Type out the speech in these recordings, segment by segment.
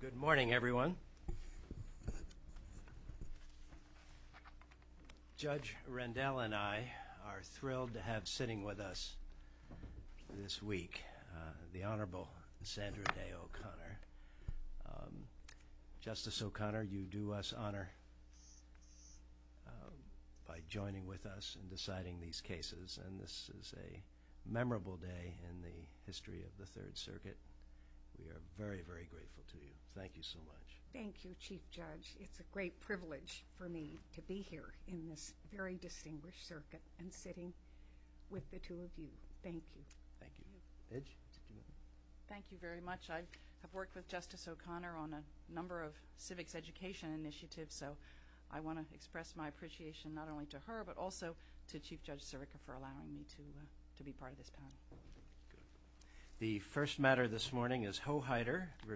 Good morning, everyone. Judge Rendell and I are thrilled to have sitting with us this week the Honorable Sandra Day O'Connor. Justice O'Connor, you do us honor by joining with us in deciding these cases, and this is a memorable day in the history of the Third Circuit. We are very, very grateful to you. Thank you so much. Thank you, Chief Judge. It's a great privilege for me to be here in this very distinguished circuit and sitting with the two of you. Thank you. Thank you. Edge. Thank you very much. I have worked with Justice O'Connor on a number of civics education initiatives, so I want to express my appreciation not only to her but also to Chief Judge Sirica for allowing me to be part of this panel. The first matter this morning is Hohider v.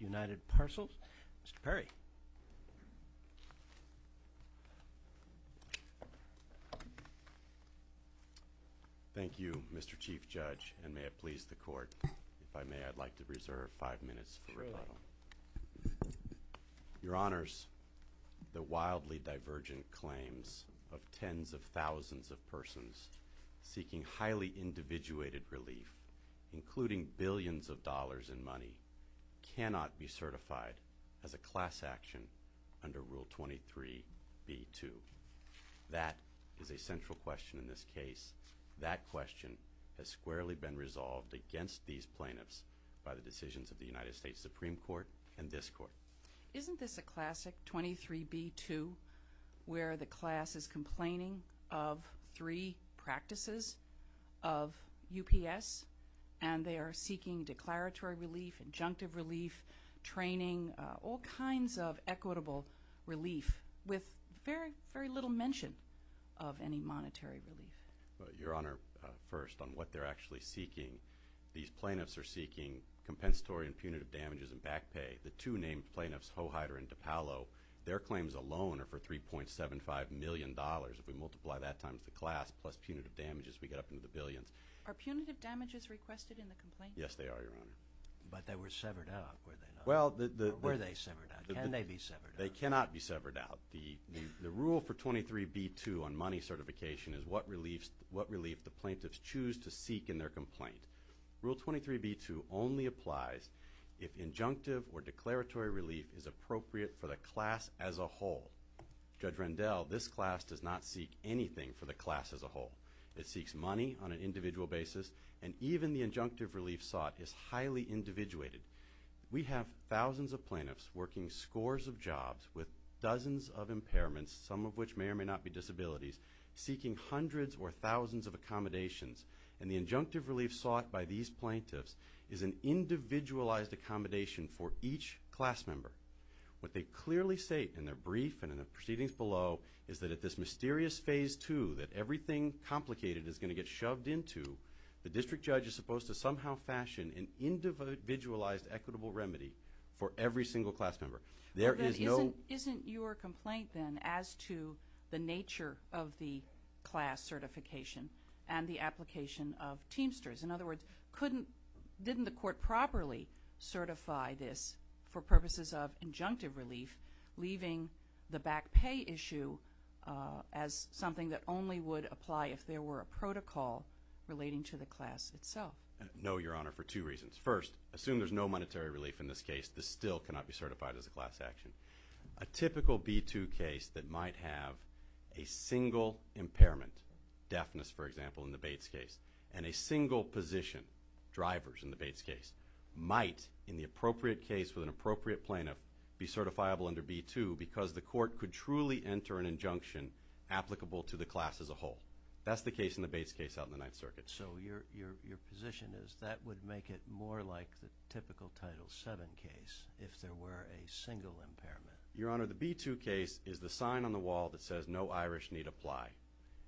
United Parcels. Mr. Perry. Thank you, Mr. Chief Judge, and may it please the Court, if I may, I'd like to reserve five minutes for rebuttal. Your Honors, the wildly divergent claims of tens of thousands of persons seeking highly individuated relief, including billions of dollars in money, cannot be certified as a class action under Rule 23b-2. That is a central question in this case. That question has squarely been resolved against these plaintiffs by the decisions of the United States Supreme Court and this Court. Isn't this a classic 23b-2 where the class is complaining of three practices of UPS and they are seeking declaratory relief, injunctive relief, training, all kinds of equitable relief with very little mention of any monetary relief? Your Honor, first, on what they're actually seeking, these plaintiffs are seeking compensatory and punitive damages and back pay. The two named plaintiffs, Hohider and DiPaolo, their claims alone are for $3.75 million. If we multiply that times the class plus punitive damages, we get up into the billions. Are punitive damages requested in the complaint? Yes, they are, Your Honor. But they were severed out, were they not? Well, the – They cannot be severed out. The rule for 23b-2 on money certification is what relief the plaintiffs choose to seek in their complaint. Rule 23b-2 only applies if injunctive or declaratory relief is appropriate for the class as a whole. Judge Rendell, this class does not seek anything for the class as a whole. It seeks money on an individual basis and even the injunctive relief sought is highly individuated. We have thousands of plaintiffs working scores of jobs with dozens of impairments, some of which may or may not be disabilities, seeking hundreds or thousands of accommodations. And the injunctive relief sought by these plaintiffs is an individualized accommodation for each class member. What they clearly say in their brief and in the proceedings below is that at this mysterious phase two that everything complicated is going to get shoved into, the district judge is supposed to somehow fashion an individualized equitable remedy for every single class member. There is no – of the class certification and the application of Teamsters. In other words, couldn't – didn't the court properly certify this for purposes of injunctive relief leaving the back pay issue as something that only would apply if there were a protocol relating to the class itself? No, Your Honor, for two reasons. First, assume there's no monetary relief in this case. This still cannot be certified as a class action. A typical B-2 case that might have a single impairment, deafness for example in the Bates case, and a single position, drivers in the Bates case, might in the appropriate case with an appropriate plaintiff be certifiable under B-2 because the court could truly enter an injunction applicable to the class as a whole. That's the case in the Bates case out in the Ninth Circuit. So your position is that would make it more like the typical Title VII case if there were a single impairment. Your Honor, the B-2 case is the sign on the wall that says no Irish need apply.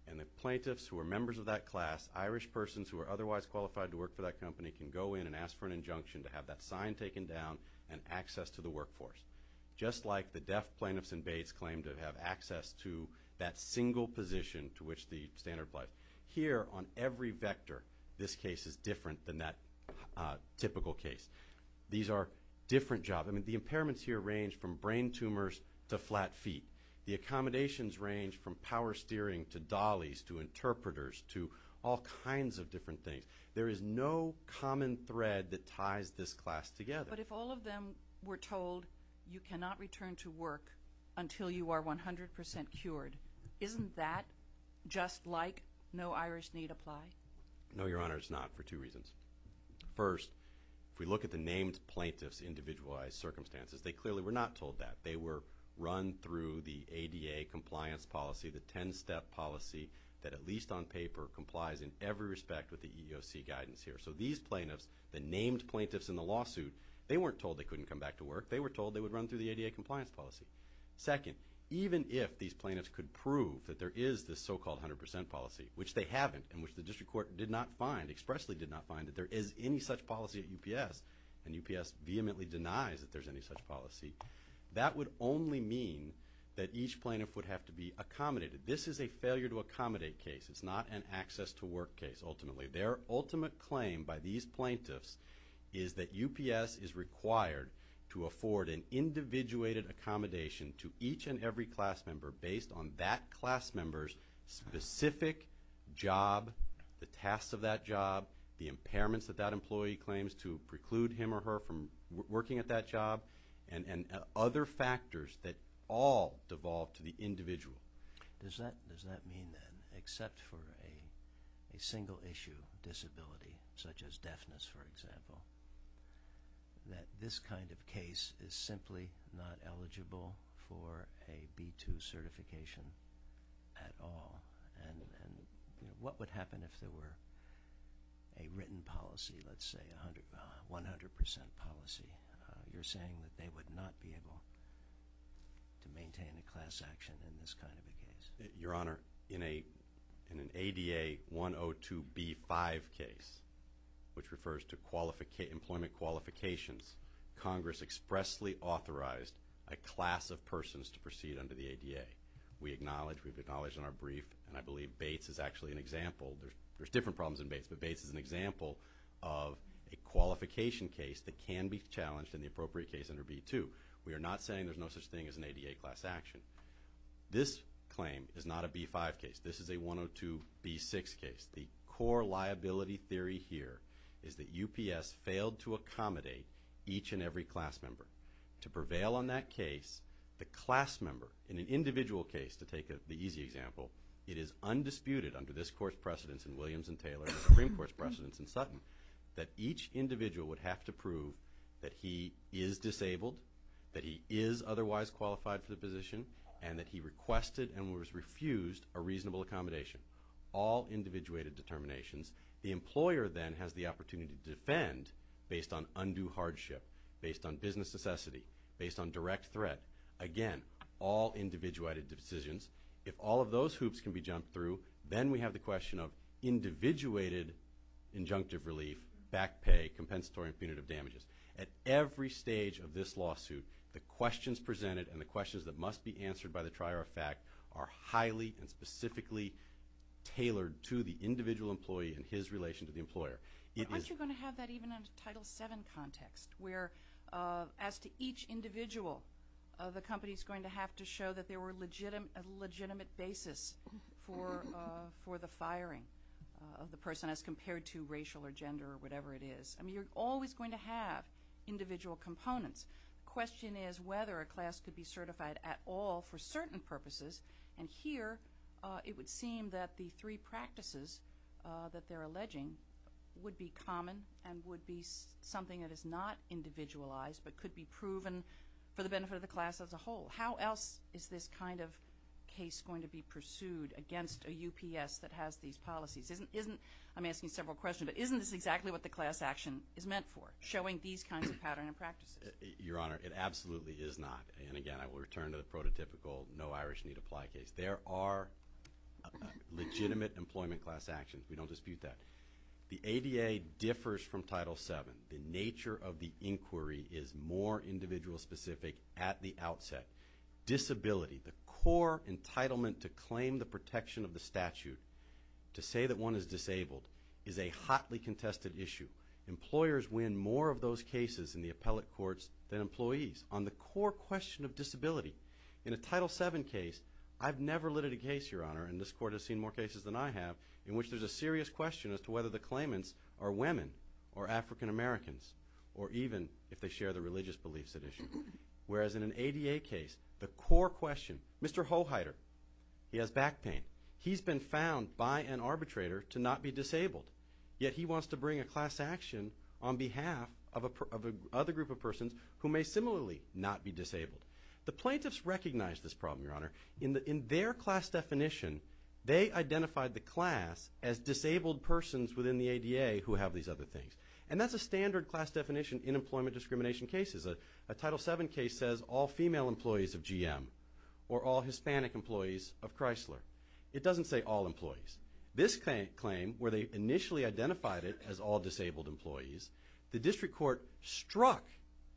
And the plaintiffs who are members of that class, Irish persons who are otherwise qualified to work for that company can go in and ask for an injunction to have that sign taken down and access to the workforce. Just like the deaf plaintiffs in Bates claim to have access to that single position to which the standard applies. Here on every vector, this case is different than that typical case. These are different jobs. The impairments here range from brain tumors to flat feet. The accommodations range from power steering to dollies to interpreters to all kinds of different things. There is no common thread that ties this class together. But if all of them were told you cannot return to work until you are 100% cured, isn't that just like no Irish need apply? No, Your Honor, it's not for two reasons. First, if we look at the named plaintiffs' individualized circumstances, they clearly were not told that. They were run through the ADA compliance policy, the 10-step policy that at least on paper complies in every respect with the EEOC guidance here. So these plaintiffs, the named plaintiffs in the lawsuit, they weren't told they couldn't come back to work. They were told they would run through the ADA compliance policy. Second, even if these plaintiffs could prove that there is this so-called 100% policy, which they haven't and which the district court did not find, expressly did not find that there is any such policy at UPS, and UPS vehemently denies that there's any such policy, that would only mean that each plaintiff would have to be accommodated. This is a failure-to-accommodate case. It's not an access-to-work case, ultimately. Their ultimate claim by these plaintiffs is that UPS is required to afford an individuated accommodation to each and every class member based on that class member's specific job, the tasks of that job, the impairments that that employee claims to preclude him or her from working at that job, and other factors that all devolve to the individual. Does that mean, then, except for a single-issue disability, such as deafness, for example, that this kind of case is simply not eligible for a B2 certification at all? And what would happen if there were a written policy, let's say 100% policy? You're saying that they would not be able to maintain a class action in this kind of a case? Your Honor, in an ADA 102B5 case, which refers to employment qualifications, Congress expressly authorized a class of persons to proceed under the ADA. We acknowledge, we've acknowledged in our brief, and I believe Bates is actually an example. There's different problems in Bates, but Bates is an example of a qualification case that can be challenged in the appropriate case under B2. We are not saying there's no such thing as an ADA class action. This claim is not a B5 case. This is a 102B6 case. The core liability theory here is that UPS failed to accommodate each and every class member. To prevail on that case, the class member, in an individual case, to take the easy example, it is undisputed under this Court's precedence in Williams v. Taylor and the Supreme Court's precedence in Sutton, that each individual would have to prove that he is disabled, that he is otherwise qualified for the position, and that he requested and was refused a reasonable accommodation. All individuated determinations. The employer then has the opportunity to defend based on undue hardship, based on business necessity, based on direct threat. Again, all individuated decisions. If all of those hoops can be jumped through, then we have the question of individuated injunctive relief, back pay, compensatory and punitive damages. At every stage of this lawsuit, the questions presented and the questions that must be answered by the trier of fact are highly and specifically tailored to the individual employee and his relation to the employer. But aren't you going to have that even in a Title VII context, where as to each individual, the company is going to have to show that there were a legitimate basis for the firing of the person as compared to racial or gender or whatever it is? I mean, you're always going to have individual components. The question is whether a class could be certified at all for certain purposes, and here it would seem that the three practices that they're alleging would be common and would be something that is not individualized but could be proven for the benefit of the class as a whole. How else is this kind of case going to be pursued against a UPS that has these policies? I'm asking several questions, but isn't this exactly what the class action is meant for, showing these kinds of patterns and practices? Your Honor, it absolutely is not. And again, I will return to the prototypical no Irish need apply case. There are legitimate employment class actions. We don't dispute that. The ADA differs from Title VII. The nature of the inquiry is more individual specific at the outset. Disability, the core entitlement to claim the protection of the statute to say that one is disabled is a hotly contested issue. Employers win more of those cases in the appellate courts than employees on the core question of disability. In a Title VII case, I've never lit a case, Your Honor, and this Court has seen more cases than I have, in which there's a serious question as to whether the claimants are women or African Americans or even if they share the religious beliefs at issue. Whereas in an ADA case, the core question, Mr. Hoheider, he has back pain. He's been found by an arbitrator to not be disabled, yet he wants to bring a class action on behalf of a group of persons who may similarly not be disabled. The plaintiffs recognize this problem, Your Honor. In their class definition, they identified the class as disabled persons within the ADA who have these other things. And that's a standard class definition in employment discrimination cases. A Title VII case says all female employees of GM or all Hispanic employees of Chrysler. It doesn't say all employees. This claim, where they initially identified it as all disabled employees, the district court struck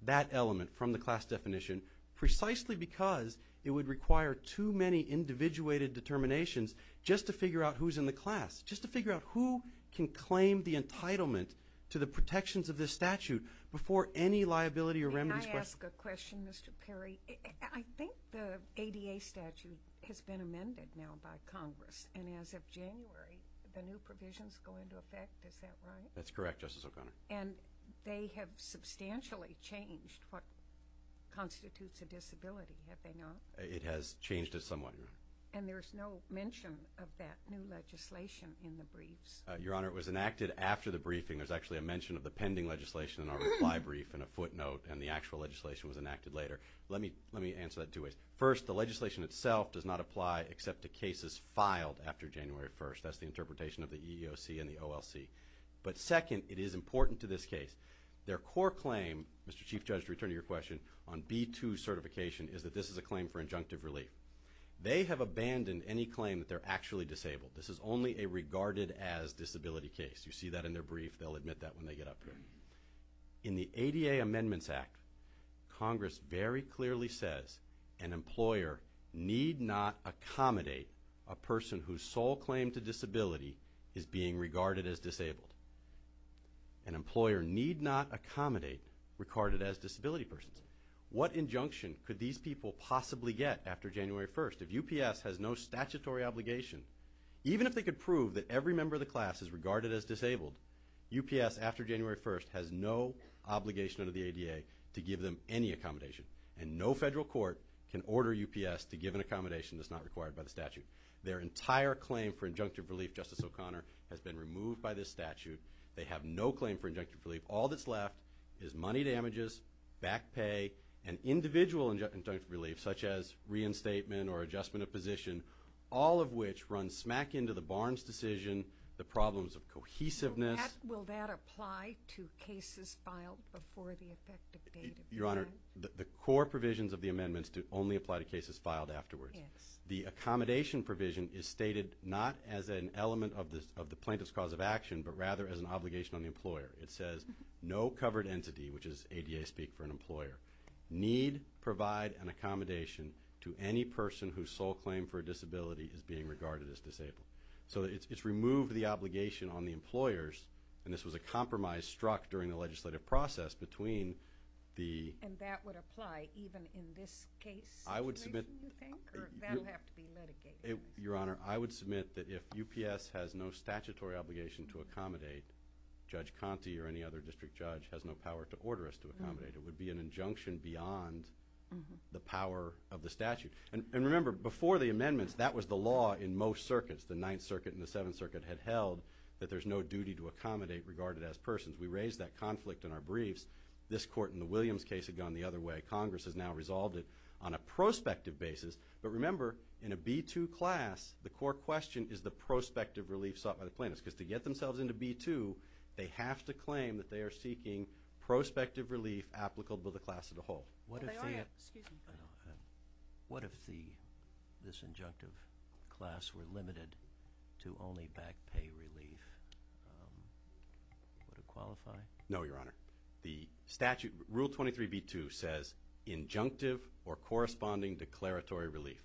that element from the class definition precisely because it would require too many individuated determinations just to figure out who's in the class. Just to figure out who can claim the entitlement to the protections of this statute before any liability or remedies question. May I ask a question, Mr. Perry? I think the ADA statute has been amended now by Congress, and as of January, the new provisions go into effect. Is that right? That's correct, Justice O'Connor. And they have substantially changed what constitutes a disability, have they not? It has changed it somewhat, Your Honor. And there's no mention of that new legislation in the briefs? Your Honor, it was enacted after the briefing. There's actually a mention of the pending legislation in our reply brief and a footnote, and the actual legislation was enacted later. Let me answer that two ways. First, the legislation itself does not apply except to cases filed after January 1st. That's the interpretation of the EEOC and the OLC. But second, it is important to this case. Their core claim, Mr. Chief Judge, to return to your question, on B-2 certification is that this is a claim for injunctive relief. They have abandoned any claim that they're actually disabled. This is only a regarded-as disability case. You see that in their brief. They'll admit that when they get up here. In the ADA Amendments Act, Congress very clearly says an employer need not accommodate a person whose sole claim to disability is being regarded as disabled. An employer need not accommodate regarded-as disability persons. What injunction could these people possibly get after January 1st if UPS has no statutory obligation? Even if they could prove that every member of the class is regarded-as disabled, UPS after January 1st has no obligation under the ADA to give them any accommodation. And no federal court can order UPS to give an accommodation that's not required by the statute. Their entire claim for injunctive relief, Justice O'Connor, has been removed by this statute. They have no claim for injunctive relief. All that's left is money damages, back pay, and individual injunctive relief, such as reinstatement or adjustment of position, all of which run smack into the Barnes decision, the problems of cohesiveness. Will that apply to cases filed before the effective date? Your Honor, the core provisions of the amendments do only apply to cases filed afterwards. The accommodation provision is stated not as an element of the plaintiff's cause of action, but rather as an obligation on the employer. It says, no covered entity, which is ADA-speak for an employer, need provide an accommodation to any person whose sole claim for disability is being regarded as disabled. So it's removed the obligation on the employers, and this was a compromise struck during the legislative process between the... And that would apply even in this case? I would submit... That would have to be mitigated. Your Honor, I would submit that if UPS has no statutory obligation to accommodate, Judge Conte or any other district judge has no power to order us to accommodate. It would be an injunction beyond the power of the statute. And remember, before the amendments, that was the law in most circuits. The Ninth Circuit and the Seventh Circuit had held that there's no duty to accommodate regarded as persons. We raised that conflict in our briefs. This court in the Williams case had gone the other way. The Congress has now resolved it on a prospective basis. But remember, in a B-2 class, the court question is the prospective relief sought by the plaintiffs. Because to get themselves into B-2, they have to claim that they are seeking prospective relief applicable to the class as a whole. Well, they aren't. Excuse me. What if this injunctive class were limited to only back pay relief? Would it qualify? No, Your Honor. The statute, Rule 23, B-2 says injunctive or corresponding declaratory relief.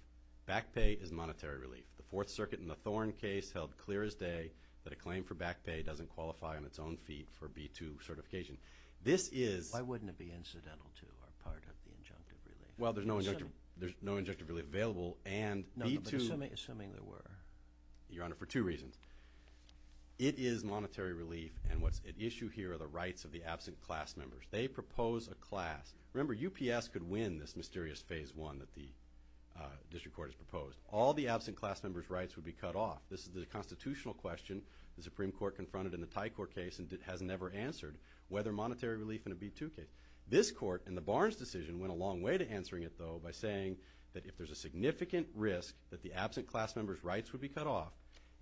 Back pay is monetary relief. The Fourth Circuit in the Thorn case held clear as day that a claim for back pay doesn't qualify on its own feet for B-2 certification. This is... Why wouldn't it be incidental to or part of the injunctive relief? Well, there's no injunctive relief available and B-2... No, but assuming there were. Your Honor, for two reasons. It is monetary relief, and what's at issue here are the rights of the absent class members. They propose a class. Remember, UPS could win this mysterious Phase 1 that the District Court has proposed. All the absent class members' rights would be cut off. This is the constitutional question the Supreme Court confronted in the Thai Court case and has never answered, whether monetary relief in a B-2 case. This Court, in the Barnes decision, went a long way to answering it, though, by saying that if there's a significant risk, that the absent class members' rights would be cut off.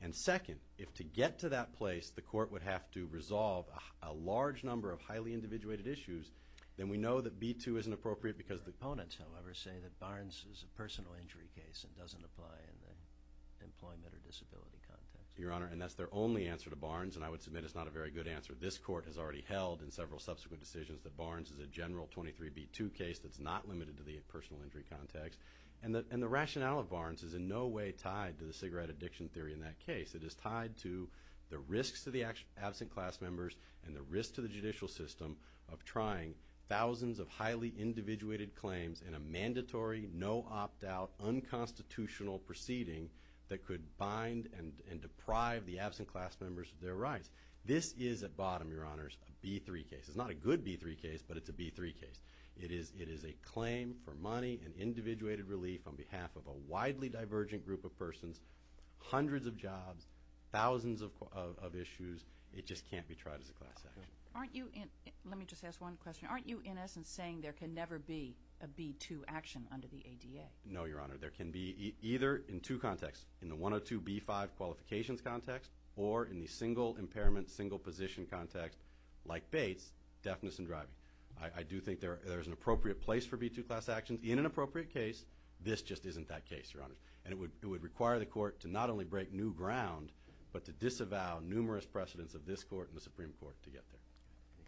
And second, if to get to that place, the Court would have to resolve a large number of highly individuated issues, then we know that B-2 isn't appropriate because... Opponents, however, say that Barnes is a personal injury case and doesn't apply in the employment or disability context. Your Honor, and that's their only answer to Barnes, and I would submit it's not a very good answer. This Court has already held in several subsequent decisions that Barnes is a general 23B-2 case that's not limited to the personal injury context. And the rationale of Barnes is in no way tied to the cigarette addiction theory in that case. It is tied to the risks to the absent class members and the risk to the judicial system of trying thousands of highly individuated claims in a mandatory, no opt-out, unconstitutional proceeding that could bind and deprive the absent class members of their rights. This is, at bottom, Your Honors, a B-3 case. It's not a good B-3 case, but it's a B-3 case. It is a claim for money and individuated relief on behalf of a widely divergent group of persons, hundreds of jobs, thousands of issues. It just can't be tried as a class action. Let me just ask one question. Aren't you, in essence, saying there can never be a B-2 action under the ADA? No, Your Honor. There can be either in two contexts, in the 102B-5 qualifications context or in the single impairment, single position context, like Bates, deafness and driving. I do think there is an appropriate place for B-2 class actions in an appropriate case. This just isn't that case, Your Honors. And it would require the Court to not only break new ground, but to disavow numerous precedents of this Court and the Supreme Court to get there.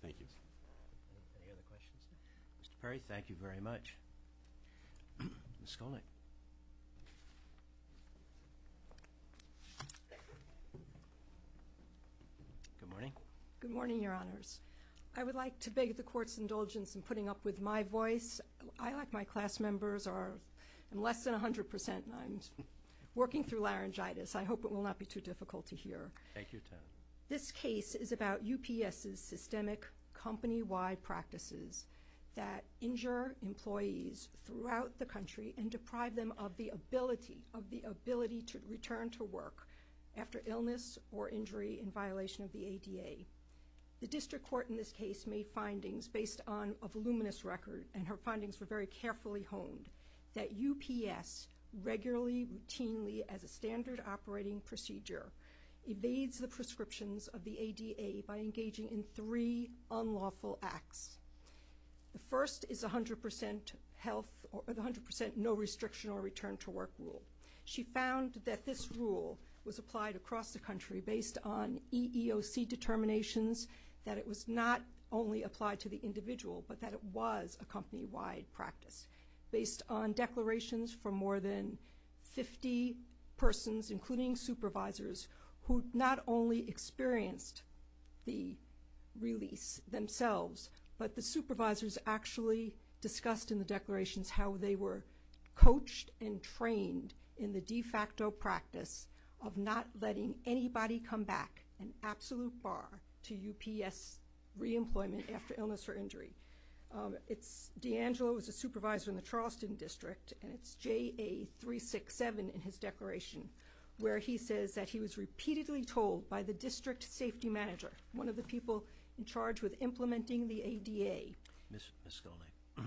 Thank you. Any other questions? Mr. Perry, thank you very much. Ms. Skolnick. Good morning. Good morning, Your Honors. I would like to beg the Court's indulgence in putting up with my voice. I, like my class members, am less than 100% and I'm working through laryngitis. I hope it will not be too difficult to hear. Thank you. This case is about UPS's systemic company-wide practices that injure employees throughout the country and deprive them of the ability to return to work after illness or injury in violation of the ADA. The District Court in this case made findings based on a voluminous record, and her findings were very carefully honed, that UPS regularly, routinely, as a standard operating procedure, evades the prescriptions of the ADA by engaging in three unlawful acts. The first is the 100% no-restriction-or-return-to-work rule. She found that this rule was applied across the country based on EEOC determinations, that it was not only applied to the individual but that it was a company-wide practice based on declarations from more than 50 persons, including supervisors, who not only experienced the release themselves, but the supervisors actually discussed in the declarations how they were coached and trained in the de facto practice of not letting anybody come back an absolute bar to UPS reemployment after illness or injury. D'Angelo was a supervisor in the Charleston District, and it's JA367 in his declaration where he says that he was repeatedly told by the district safety manager, one of the people in charge with implementing the ADA. Ms. Skolnik,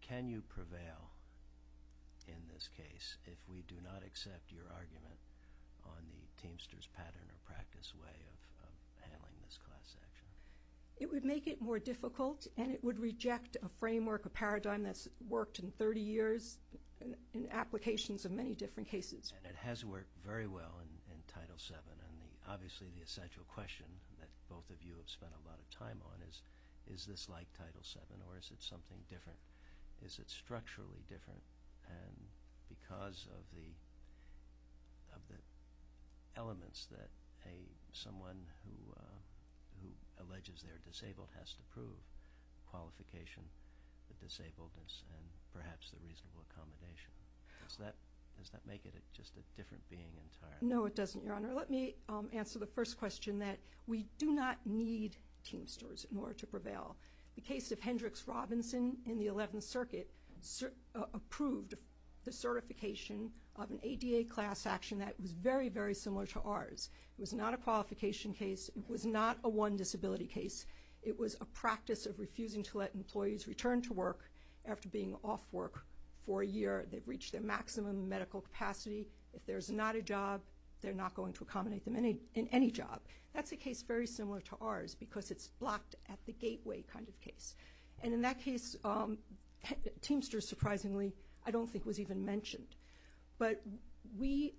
can you prevail in this case if we do not accept your argument on the Teamsters pattern or practice way of handling this class action? It would make it more difficult, and it would reject a framework, a paradigm that's worked in 30 years in applications of many different cases. And it has worked very well in Title VII. Obviously, the essential question that both of you have spent a lot of time on is, is this like Title VII or is it something different? Is it structurally different? And because of the elements that someone who alleges they're disabled has to prove, qualification, the disabledness, and perhaps the reasonable accommodation, does that make it just a different being entirely? No, it doesn't, Your Honor. Let me answer the first question that we do not need Teamsters in order to prevail. The case of Hendricks Robinson in the 11th Circuit approved the certification of an ADA class action that was very, very similar to ours. It was not a qualification case. It was not a one-disability case. It was a practice of refusing to let employees return to work after being off work for a year. They've reached their maximum medical capacity. If there's not a job, they're not going to accommodate them in any job. That's a case very similar to ours because it's blocked at the gateway kind of case. And in that case, Teamsters, surprisingly, I don't think was even mentioned. But we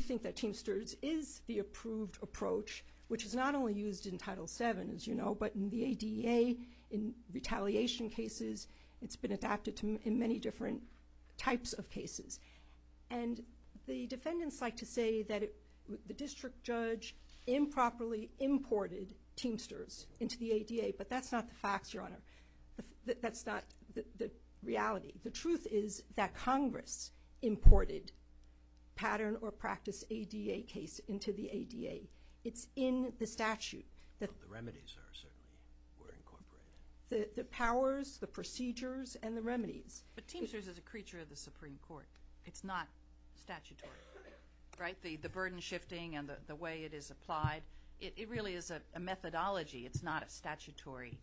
think that Teamsters is the approved approach, which is not only used in Title VII, as you know, but in the ADA, in retaliation cases. It's been adapted in many different types of cases. And the defendants like to say that the district judge improperly imported Teamsters into the ADA, but that's not the facts, Your Honor. That's not the reality. The truth is that Congress imported pattern or practice ADA case into the ADA. It's in the statute. The remedies certainly were incorporated. The powers, the procedures, and the remedies. But Teamsters is a creature of the Supreme Court. It's not statutory, right? The burden shifting and the way it is applied, it really is a methodology. It's not a statutory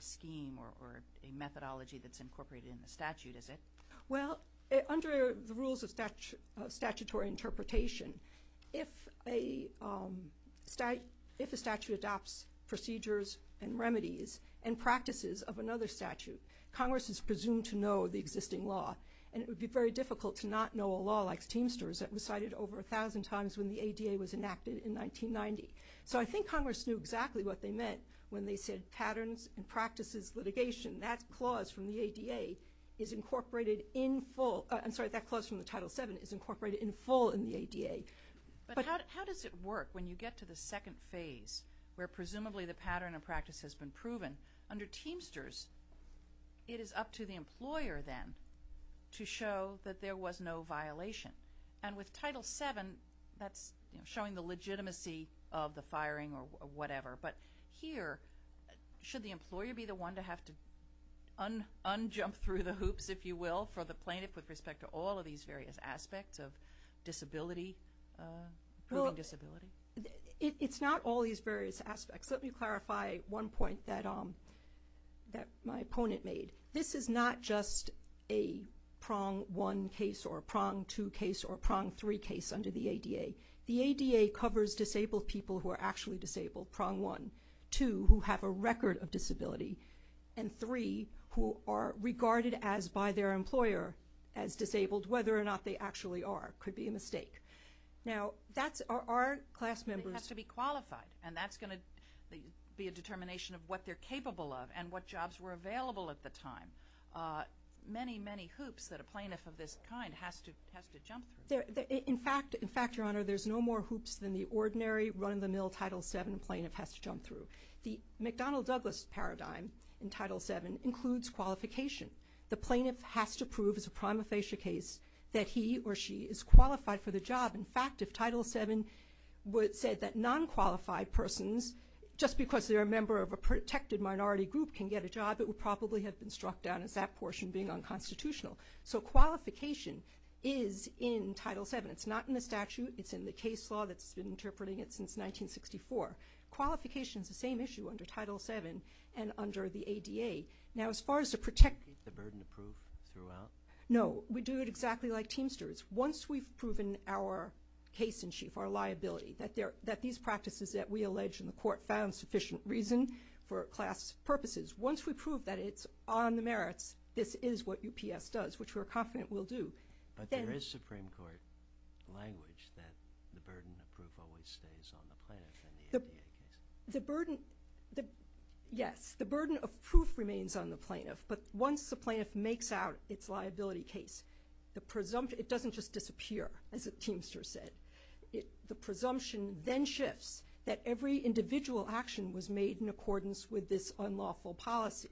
scheme or a methodology that's incorporated in the statute, is it? Well, under the rules of statutory interpretation, if a statute adopts procedures and remedies and practices of another statute, Congress is presumed to know the existing law. And it would be very difficult to not know a law like Teamsters that was cited over a thousand times when the ADA was enacted in 1990. So I think Congress knew exactly what they meant when they said patterns and practices litigation. That clause from the ADA is incorporated in full. I'm sorry, that clause from the Title VII is incorporated in full in the ADA. But how does it work when you get to the second phase where presumably the pattern and practice has been proven? Under Teamsters, it is up to the employer then to show that there was no violation. And with Title VII, that's showing the legitimacy of the firing or whatever. But here, should the employer be the one to have to unjump through the hoops, if you will, for the plaintiff with respect to all of these various aspects of disability, improving disability? Well, it's not all these various aspects. Let me clarify one point that my opponent made. This is not just a prong one case or a prong two case or a prong three case under the ADA. The ADA covers disabled people who are actually disabled, prong one. Two, who have a record of disability. And three, who are regarded as by their employer as disabled, whether or not they actually are. It could be a mistake. Now, that's our class members. It has to be qualified, and that's going to be a determination of what they're capable of and what jobs were available at the time. Many, many hoops that a plaintiff of this kind has to jump through. In fact, Your Honor, there's no more hoops than the ordinary run-of-the-mill Title VII plaintiff has to jump through. The McDonnell-Douglas paradigm in Title VII includes qualification. The plaintiff has to prove as a prima facie case that he or she is qualified for the job. In fact, if Title VII would say that non-qualified persons, just because they're a member of a protected minority group, can get a job, it would probably have been struck down as that portion being unconstitutional. So qualification is in Title VII. It's not in the statute. It's in the case law that's been interpreting it since 1964. Qualification is the same issue under Title VII and under the ADA. Now, as far as to protect the burden of proof throughout, no, we do it exactly like Teamsters. Once we've proven our case in chief, our liability, that these practices that we allege in the court found sufficient reason for class purposes, once we prove that it's on the merits, this is what UPS does, which we're confident we'll do. But there is Supreme Court language that the burden of proof always stays on the plaintiff in the ADA case. The burden, yes, the burden of proof remains on the plaintiff, but once the plaintiff makes out its liability case, it doesn't just disappear, as Teamsters said. The presumption then shifts that every individual action was made in accordance with this unlawful policy.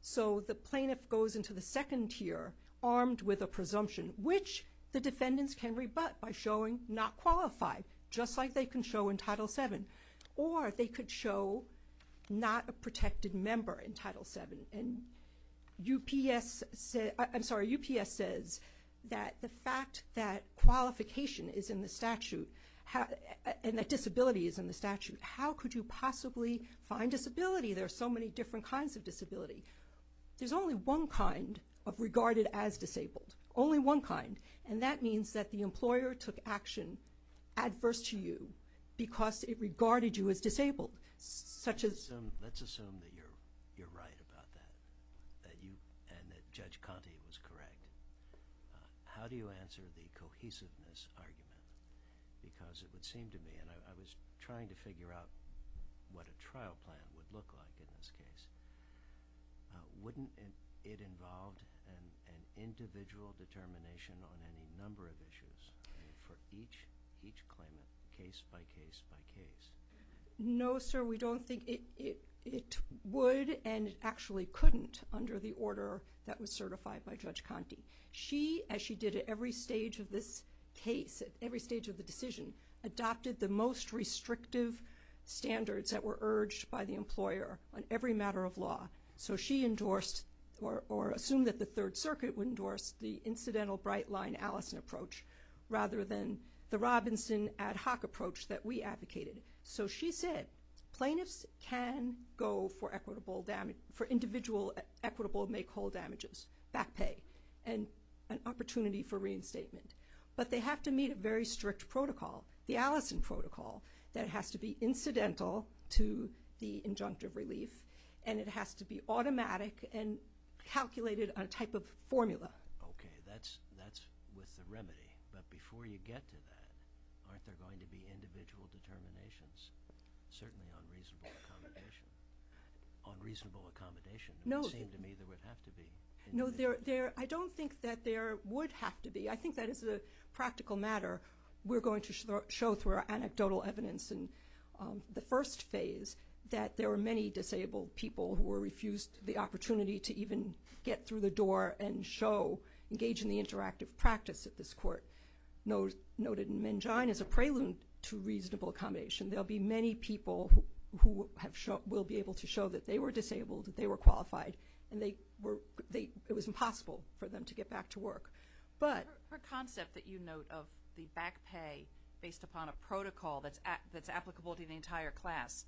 So the plaintiff goes into the second tier armed with a presumption, which the defendants can rebut by showing not qualified, just like they can show in Title VII, or they could show not a protected member in Title VII. And UPS, I'm sorry, UPS says that the fact that qualification is in the statute, and that disability is in the statute, how could you possibly find disability? There are so many different kinds of disability. There's only one kind of regarded as disabled, only one kind, and that means that the employer took action adverse to you because it regarded you as disabled, such as... Let's assume that you're right about that, and that Judge Conte was correct. How do you answer the cohesiveness argument? Because it would seem to me, and I was trying to figure out what a trial plan would look like in this case. Wouldn't it involve an individual determination on any number of issues for each claimant, case by case by case? No, sir, we don't think it would, and it actually couldn't under the order that was certified by Judge Conte. She, as she did at every stage of this case, at every stage of the decision, adopted the most restrictive standards that were urged by the employer on every matter of law. So she endorsed, or assumed that the Third Circuit would endorse, the incidental bright line Allison approach rather than the Robinson ad hoc approach that we advocated. So she said plaintiffs can go for equitable damage, for individual equitable make whole damages, back pay, and an opportunity for reinstatement, but they have to meet a very strict protocol, the Allison protocol, that has to be incidental to the injunctive relief, and it has to be automatic and calculated on a type of formula. Okay, that's with the remedy, but before you get to that, aren't there going to be individual determinations? Certainly on reasonable accommodation. On reasonable accommodation, it would seem to me there would have to be. No, I don't think that there would have to be. I think that as a practical matter, we're going to show through our anecdotal evidence in the first phase that there were many disabled people who were refused the opportunity to even get through the door and show, engage in the interactive practice at this court. Noted in Mengjian as a prelude to reasonable accommodation, there will be many people who will be able to show that they were disabled, that they were qualified, and it was impossible for them to get back to work. Her concept that you note of the back pay based upon a protocol that's applicable to the entire class,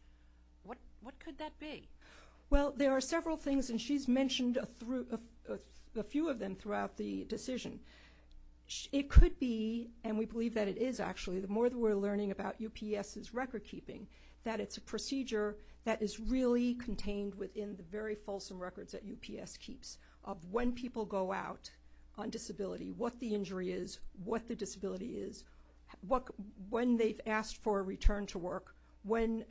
what could that be? Well, there are several things, and she's mentioned a few of them throughout the decision. It could be, and we believe that it is actually, the more that we're learning about UPS's record keeping, that it's a procedure that is really contained within the very fulsome records that UPS keeps of when people go out on disability, what the injury is, what the disability is, when they've asked for a return to work, when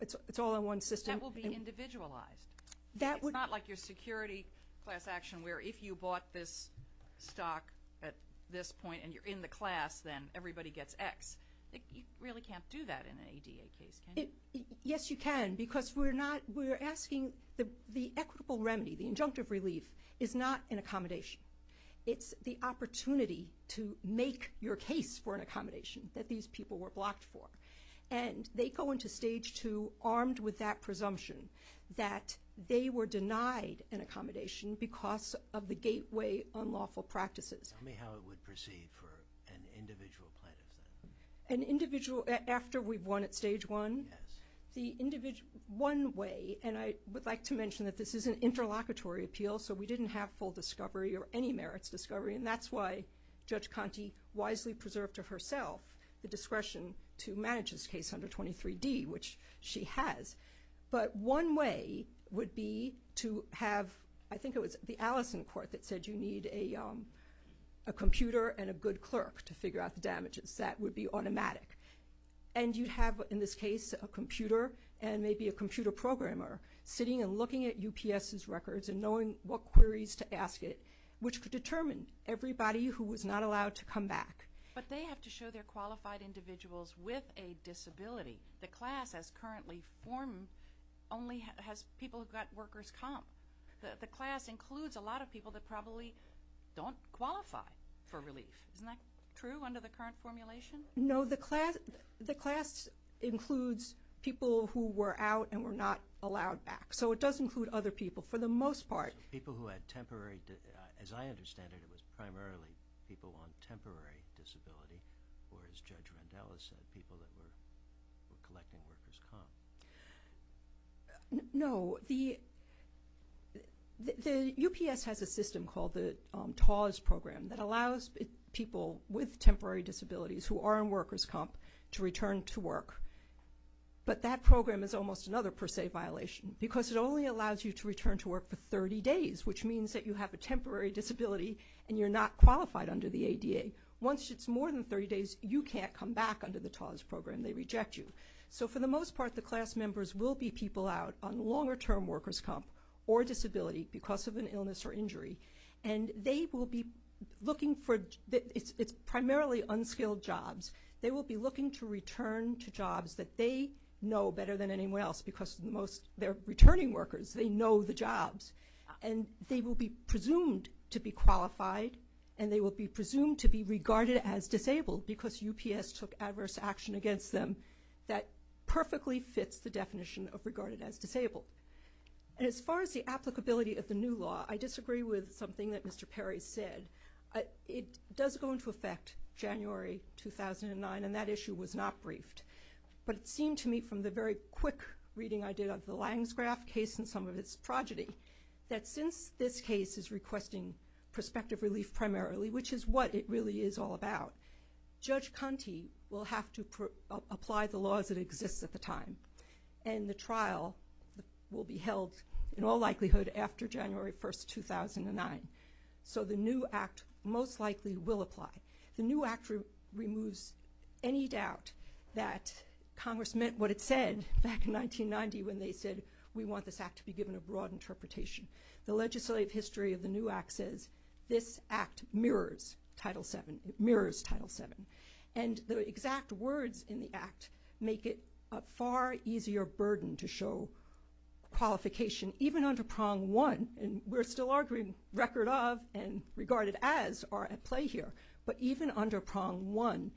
it's all in one system. That will be individualized. It's not like your security class action where if you bought this stock at this point and you're in the class, then everybody gets X. You really can't do that in an ADA case, can you? Yes, you can, because we're asking the equitable remedy, the injunctive relief, is not an accommodation. It's the opportunity to make your case for an accommodation that these people were blocked for, and they go into Stage 2 armed with that presumption that they were denied an accommodation because of the gateway unlawful practices. Tell me how it would proceed for an individual plaintiff then. An individual after we've won at Stage 1? Yes. One way, and I would like to mention that this is an interlocutory appeal, so we didn't have full discovery or any merits discovery, and that's why Judge Conte wisely preserved to herself the discretion to manage this case under 23D, which she has. But one way would be to have, I think it was the Allison court that said you need a computer and a good clerk to figure out the damages. That would be automatic. And you'd have, in this case, a computer and maybe a computer programmer sitting and looking at UPS's records and knowing what queries to ask it, which could determine everybody who was not allowed to come back. But they have to show they're qualified individuals with a disability. The class has currently formed only has people who've got workers' comp. The class includes a lot of people that probably don't qualify for relief. Isn't that true under the current formulation? No, the class includes people who were out and were not allowed back. So it does include other people for the most part. So people who had temporary, as I understand it, it was primarily people on temporary disability, or as Judge Randella said, people that were collecting workers' comp. No, the UPS has a system called the TAWS program that allows people with temporary disabilities who are on workers' comp to return to work. But that program is almost another per se violation because it only allows you to return to work for 30 days, which means that you have a temporary disability and you're not qualified under the ADA. Once it's more than 30 days, you can't come back under the TAWS program. They reject you. So for the most part, the class members will be people out on longer-term workers' comp or disability because of an illness or injury. And they will be looking for, it's primarily unskilled jobs. They will be looking to return to jobs that they know better than anyone else because they're returning workers. They know the jobs. And they will be presumed to be qualified, and they will be presumed to be regarded as disabled because UPS took adverse action against them. That perfectly fits the definition of regarded as disabled. And as far as the applicability of the new law, I disagree with something that Mr. Perry said. It does go into effect January 2009, and that issue was not briefed. But it seemed to me from the very quick reading I did of the Lange's graph case and some of its progeny that since this case is requesting prospective relief primarily, which is what it really is all about, Judge Conte will have to apply the laws that exist at the time. And the trial will be held in all likelihood after January 1, 2009. So the new act most likely will apply. The new act removes any doubt that Congress meant what it said back in 1990 when they said we want this act to be given a broad interpretation. The legislative history of the new act says this act mirrors Title VII. And the exact words in the act make it a far easier burden to show qualification, even under Prong 1, and we're still arguing record of and regarded as are at play here. But even under Prong 1,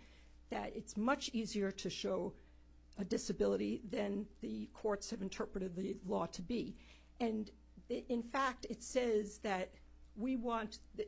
it's much easier to show a disability than the courts have interpreted the law to be. And, in fact, it says that we want the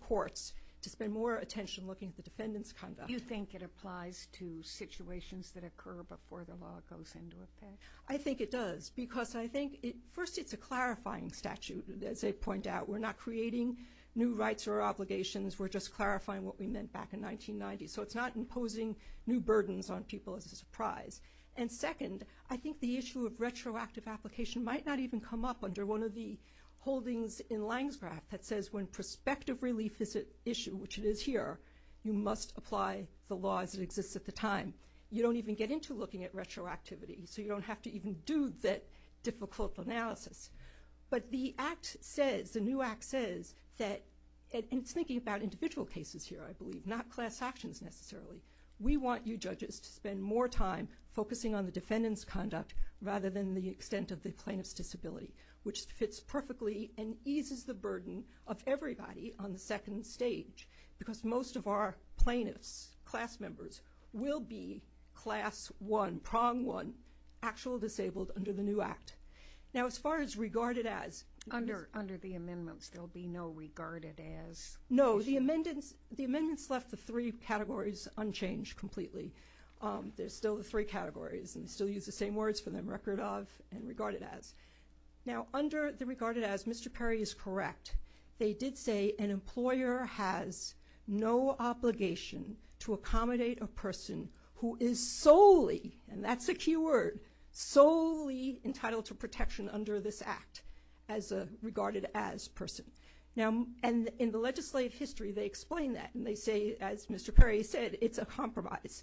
courts to spend more attention looking at the defendant's conduct. Do you think it applies to situations that occur before the law goes into effect? I think it does because I think first it's a clarifying statute. As I point out, we're not creating new rights or obligations. We're just clarifying what we meant back in 1990. So it's not imposing new burdens on people as a surprise. And second, I think the issue of retroactive application might not even come up under one of the holdings in Lansgraf that says when prospective relief is at issue, which it is here, you must apply the laws that exist at the time. You don't even get into looking at retroactivity, so you don't have to even do that difficult analysis. But the Act says, the new Act says that, and it's thinking about individual cases here, I believe, not class actions necessarily, we want you judges to spend more time focusing on the defendant's conduct rather than the extent of the plaintiff's disability, which fits perfectly and eases the burden of everybody on the second stage because most of our plaintiffs, class members, will be Class 1, Prong 1, actually disabled under the new Act. Now, as far as regarded as... Under the amendments, there'll be no regarded as. No, the amendments left the three categories unchanged completely. There's still the three categories, and we still use the same words for them, record of and regarded as. Now, under the regarded as, Mr. Perry is correct. They did say an employer has no obligation to accommodate a person who is solely, and that's a key word, solely entitled to protection under this Act as a regarded as person. Now, in the legislative history, they explain that, and they say, as Mr. Perry said, it's a compromise.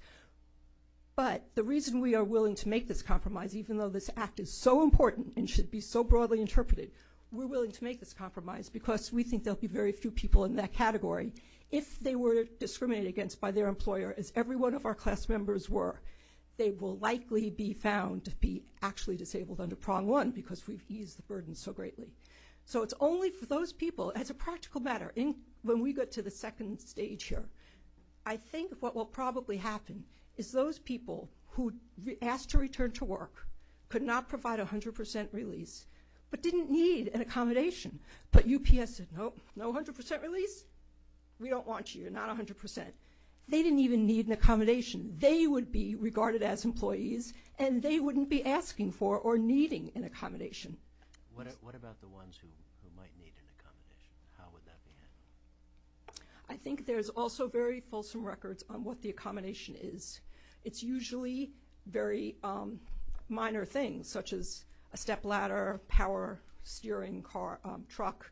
But the reason we are willing to make this compromise, even though this Act is so important and should be so broadly interpreted, we're willing to make this compromise because we think there'll be very few people in that category if they were discriminated against by their employer, as every one of our class members were. They will likely be found to be actually disabled under Prong 1 because we've eased the burden so greatly. So it's only for those people. As a practical matter, when we get to the second stage here, I think what will probably happen is those people who asked to return to work could not provide 100% release but didn't need an accommodation. But UPS said, no, no 100% release? We don't want you, you're not 100%. They didn't even need an accommodation. They would be regarded as employees, and they wouldn't be asking for or needing an accommodation. What about the ones who might need an accommodation? How would that be handled? I think there's also very fulsome records on what the accommodation is. It's usually very minor things, such as a stepladder, power steering truck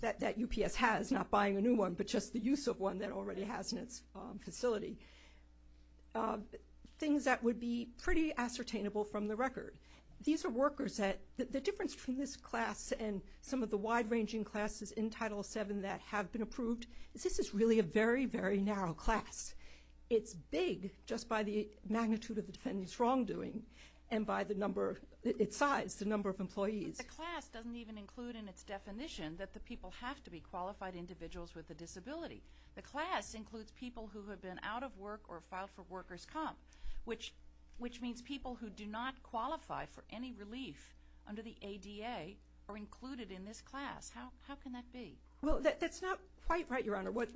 that UPS has, which is not buying a new one but just the use of one that it already has in its facility. Things that would be pretty ascertainable from the record. These are workers that the difference between this class and some of the wide-ranging classes in Title VII that have been approved is this is really a very, very narrow class. It's big just by the magnitude of the defendant's wrongdoing and by the number of its size, the number of employees. But the class doesn't even include in its definition that the people have to be qualified individuals with a disability. The class includes people who have been out of work or filed for workers' comp, which means people who do not qualify for any relief under the ADA are included in this class. How can that be? Well, that's not quite right, Your Honor. What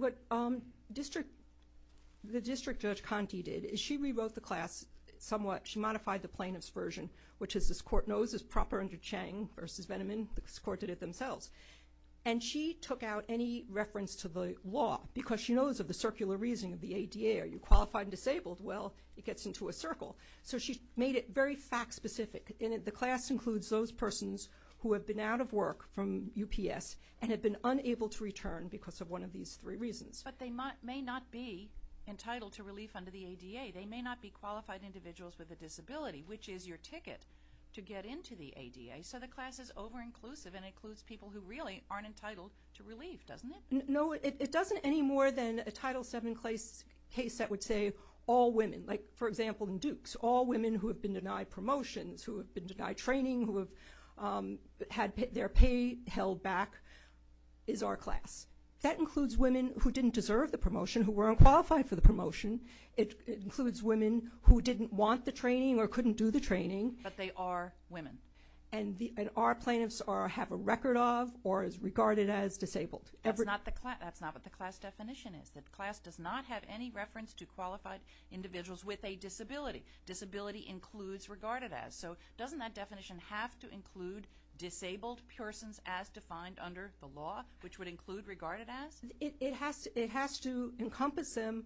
the District Judge Conte did is she rewrote the class somewhat. She modified the plaintiff's version, which, as this Court knows, is proper under Chang v. Veneman. This Court did it themselves. And she took out any reference to the law because she knows of the circular reasoning of the ADA. Are you qualified and disabled? Well, it gets into a circle. So she made it very fact-specific. And the class includes those persons who have been out of work from UPS and have been unable to return because of one of these three reasons. But they may not be entitled to relief under the ADA. They may not be qualified individuals with a disability, which is your ticket to get into the ADA. So the class is over-inclusive and includes people who really aren't entitled to relief, doesn't it? No, it doesn't any more than a Title VII case that would say all women. Like, for example, in Dukes, all women who have been denied promotions, who have been denied training, who have had their pay held back is our class. That includes women who didn't deserve the promotion, who were unqualified for the promotion. It includes women who didn't want the training or couldn't do the training. But they are women. And our plaintiffs have a record of or is regarded as disabled. That's not what the class definition is. The class does not have any reference to qualified individuals with a disability. Disability includes regarded as. So doesn't that definition have to include disabled persons as defined under the law, which would include regarded as? It has to encompass them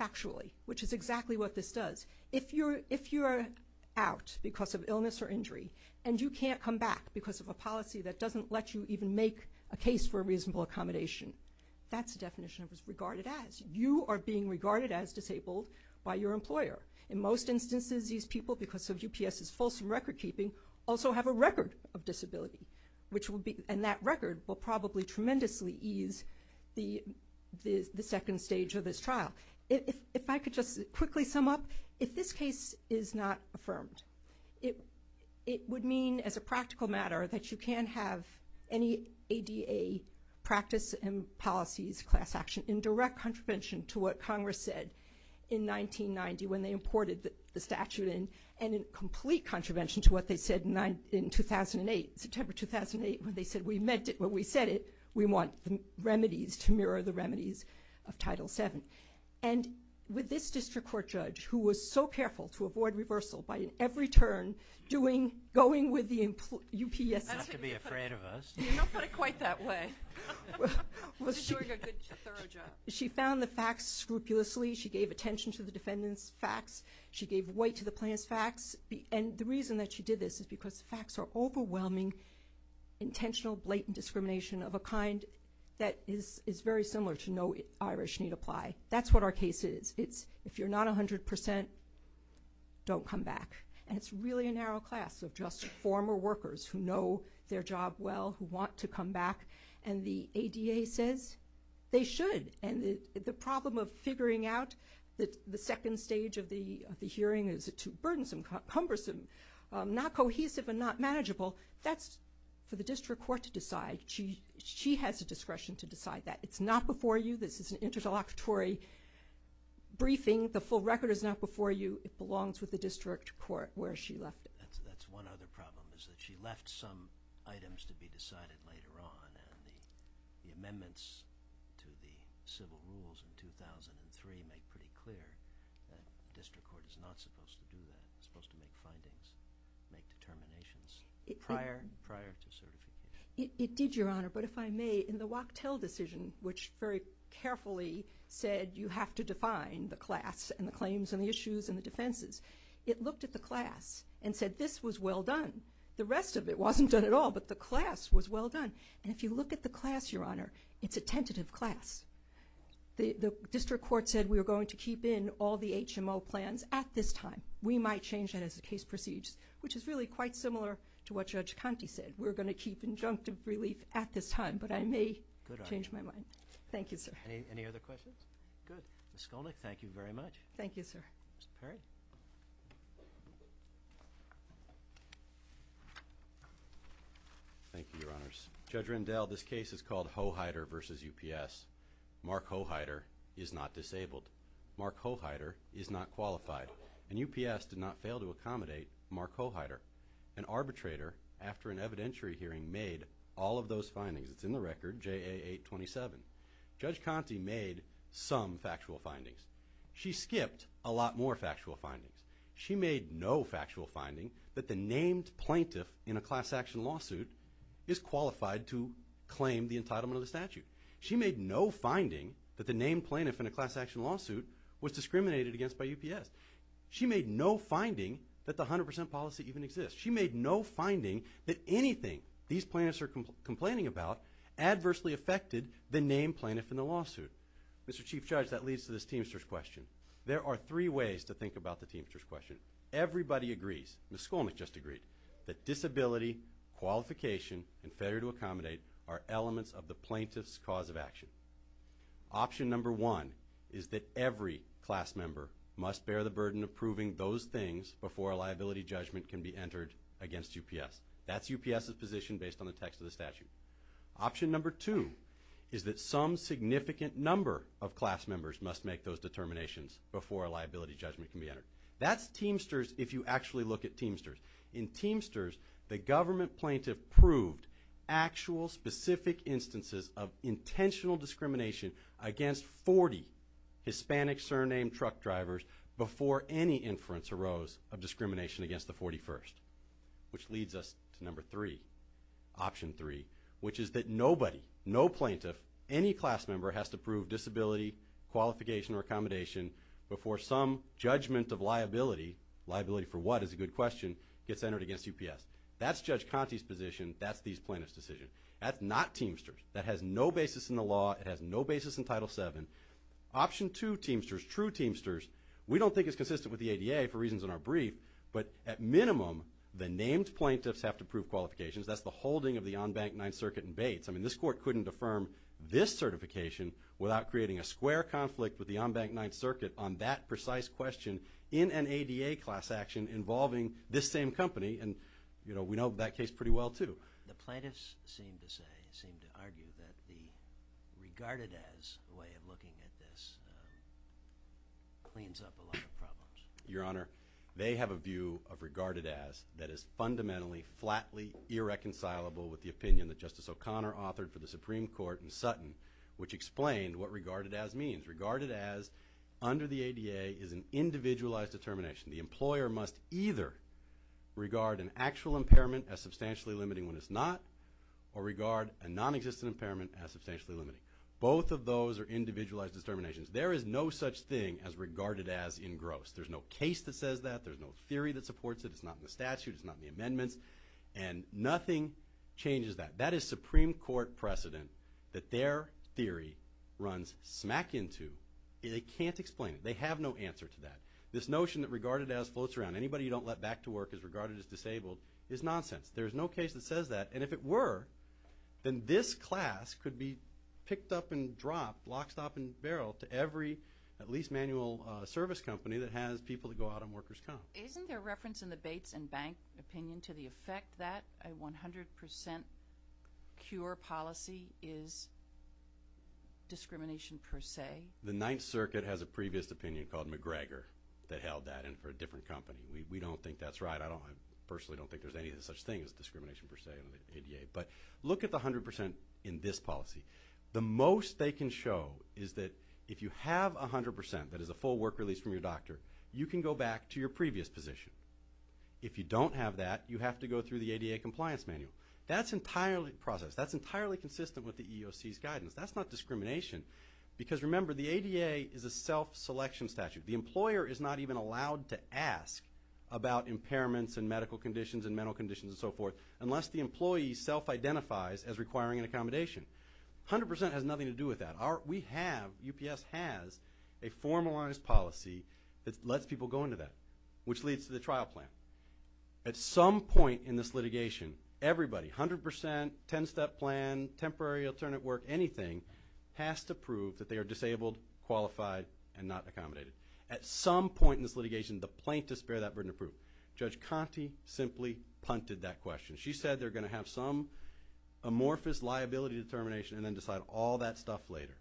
factually, which is exactly what this does. If you're out because of illness or injury and you can't come back because of a policy that doesn't let you even make a case for a reasonable accommodation, that's the definition of regarded as. You are being regarded as disabled by your employer. In most instances, these people, because of UPS's fulsome record-keeping, also have a record of disability, and that record will probably tremendously ease the second stage of this trial. If I could just quickly sum up. If this case is not affirmed, it would mean as a practical matter that you can have any ADA practice and policies class action in direct contravention to what Congress said in 1990 when they imported the statute in and in complete contravention to what they said in 2008, September 2008, when they said we meant it, when we said it, we want the remedies to mirror the remedies of Title VII. And with this district court judge who was so careful to avoid reversal by, in every turn, doing, going with the UPS. Not to be afraid of us. You don't put it quite that way. She's doing a good, thorough job. She found the facts scrupulously. She gave attention to the defendant's facts. She gave weight to the plaintiff's facts. And the reason that she did this is because the facts are overwhelming, intentional, blatant discrimination of a kind that is very similar to no Irish need apply. That's what our case is. It's if you're not 100 percent, don't come back. And it's really a narrow class of just former workers who know their job well, who want to come back. And the ADA says they should. And the problem of figuring out that the second stage of the hearing is too burdensome, cumbersome, not cohesive, and not manageable, that's for the district court to decide. She has the discretion to decide that. It's not before you. This is an interlocutory briefing. The full record is not before you. It belongs with the district court where she left it. That's one other problem is that she left some items to be decided later on. And the amendments to the civil rules in 2003 make pretty clear that the district court is not supposed to do that. It's supposed to make findings, make determinations prior to certification. It did, Your Honor. But if I may, in the Wachtell decision, which very carefully said you have to define the class and the claims and the issues and the defenses, it looked at the class and said this was well done. The rest of it wasn't done at all, but the class was well done. And if you look at the class, Your Honor, it's a tentative class. The district court said we are going to keep in all the HMO plans at this time. We might change that as the case proceeds, which is really quite similar to what Judge Conte said. We're going to keep injunctive relief at this time. But I may change my mind. Thank you, sir. Any other questions? Good. Ms. Skolnick, thank you very much. Thank you, sir. Mr. Perry. Thank you, Your Honors. Judge Rendell, this case is called Hoheider v. UPS. Mark Hoheider is not disabled. Mark Hoheider is not qualified. And UPS did not fail to accommodate Mark Hoheider. An arbitrator, after an evidentiary hearing, made all of those findings. It's in the record, JA 827. Judge Conte made some factual findings. She skipped a lot more factual findings. She made no factual finding that the named plaintiff in a class action lawsuit is qualified to claim the entitlement of the statute. She made no finding that the named plaintiff in a class action lawsuit was discriminated against by UPS. She made no finding that the 100% policy even exists. She made no finding that anything these plaintiffs are complaining about adversely affected the named plaintiff in the lawsuit. Mr. Chief Judge, that leads to this teamster's question. There are three ways to think about the teamster's question. Everybody agrees, Ms. Skolnick just agreed, that disability, qualification, and failure to accommodate are elements of the plaintiff's cause of action. Option number one is that every class member must bear the burden of proving those things before a liability judgment can be entered against UPS. That's UPS's position based on the text of the statute. Option number two is that some significant number of class members must make those determinations before a liability judgment can be entered. That's teamsters if you actually look at teamsters. In teamsters, the government plaintiff proved actual specific instances of intentional discrimination against 40 Hispanic surname truck drivers before any inference arose of discrimination against the 41st, which leads us to number three, option three, which is that nobody, no plaintiff, any class member has to prove disability, qualification, or accommodation before some judgment of liability, liability for what is a good question, gets entered against UPS. That's Judge Conte's position. That's these plaintiffs' decision. That's not teamsters. That has no basis in the law. It has no basis in Title VII. Option two teamsters, true teamsters, we don't think is consistent with the ADA for reasons in our brief, but at minimum, the named plaintiffs have to prove qualifications. That's the holding of the on-bank Ninth Circuit in Bates. I mean, this Court couldn't affirm this certification without creating a square conflict with the on-bank Ninth Circuit on that precise question in an ADA class action involving this same company, and, you know, we know that case pretty well too. The plaintiffs seem to say, seem to argue that the regarded as way of looking at this cleans up a lot of problems. Your Honor, they have a view of regarded as that is fundamentally, flatly, irreconcilable with the opinion that Justice O'Connor authored for the Supreme Court in Sutton, which explained what regarded as means. Regarded as, under the ADA, is an individualized determination. The employer must either regard an actual impairment as substantially limiting when it's not, or regard a nonexistent impairment as substantially limiting. Both of those are individualized determinations. There is no such thing as regarded as in gross. There's no case that says that. There's no theory that supports it. It's not in the statute. It's not in the amendments. And nothing changes that. That is Supreme Court precedent that their theory runs smack into. They can't explain it. They have no answer to that. This notion that regarded as floats around. Anybody you don't let back to work is regarded as disabled is nonsense. There is no case that says that. And if it were, then this class could be picked up and dropped, lock, stop, and barrel to every at least manual service company that has people that go out on workers' comp. Isn't there reference in the Bates & Bank opinion to the effect that a 100% cure policy is discrimination per se? The Ninth Circuit has a previous opinion called McGregor that held that in for a different company. We don't think that's right. I personally don't think there's any such thing as discrimination per se in the ADA. But look at the 100% in this policy. The most they can show is that if you have 100% that is a full work release from your doctor, you can go back to your previous position. If you don't have that, you have to go through the ADA compliance manual. That's entirely processed. That's entirely consistent with the EEOC's guidance. That's not discrimination because, remember, the ADA is a self-selection statute. The employer is not even allowed to ask about impairments and medical conditions and mental conditions and so forth unless the employee self-identifies as requiring an accommodation. 100% has nothing to do with that. We have, UPS has, a formalized policy that lets people go into that, which leads to the trial plan. At some point in this litigation, everybody, 100%, 10-step plan, temporary alternate work, anything, has to prove that they are disabled, qualified, and not accommodated. At some point in this litigation, the plaintiffs bear that burden of proof. Judge Conte simply punted that question. She said they're going to have some amorphous liability determination and then decide all that stuff later.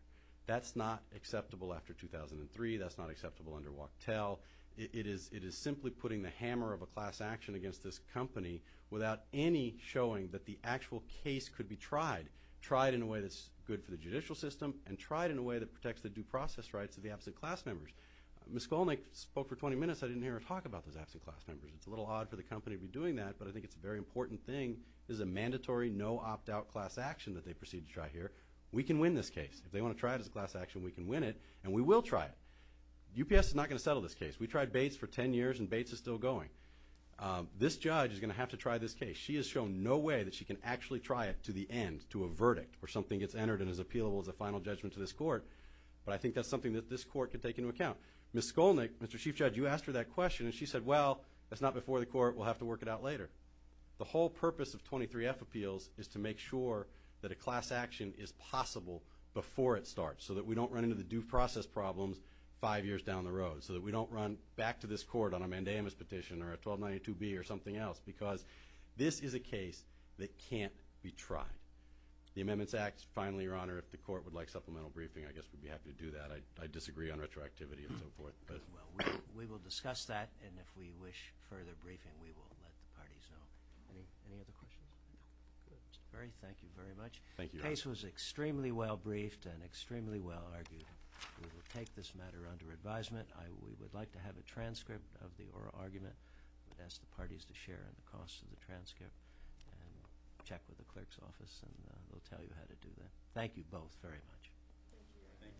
That's not acceptable after 2003. That's not acceptable under Wachtell. It is simply putting the hammer of a class action against this company without any showing that the actual case could be tried, tried in a way that's good for the judicial system and tried in a way that protects the due process rights of the absent class members. Ms. Skolnick spoke for 20 minutes. I didn't hear her talk about those absent class members. It's a little odd for the company to be doing that, but I think it's a very important thing. This is a mandatory, no opt-out class action that they proceed to try here. We can win this case. If they want to try it as a class action, we can win it, and we will try it. UPS is not going to settle this case. We tried Bates for 10 years, and Bates is still going. This judge is going to have to try this case. She has shown no way that she can actually try it to the end, to a verdict, where something gets entered and is appealable as a final judgment to this court, but I think that's something that this court could take into account. Ms. Skolnick, Mr. Chief Judge, you asked her that question, and she said, well, that's not before the court. We'll have to work it out later. The whole purpose of 23F appeals is to make sure that a class action is possible before it starts so that we don't run into the due process problems five years down the road, so that we don't run back to this court on a mandamus petition or a 1292B or something else because this is a case that can't be tried. The Amendments Act, finally, Your Honor, if the court would like supplemental briefing, I guess we'd be happy to do that. I disagree on retroactivity and so forth. Well, we will discuss that, and if we wish further briefing, we will let the parties know. Any other questions? Good. Thank you very much. Thank you, Your Honor. The case was extremely well briefed and extremely well argued. We will take this matter under advisement. We would like to have a transcript of the oral argument and ask the parties to share in the cost of the transcript and check with the clerk's office, and we'll tell you how to do that. Thank you both very much. Thank you, Your Honor. Thank you.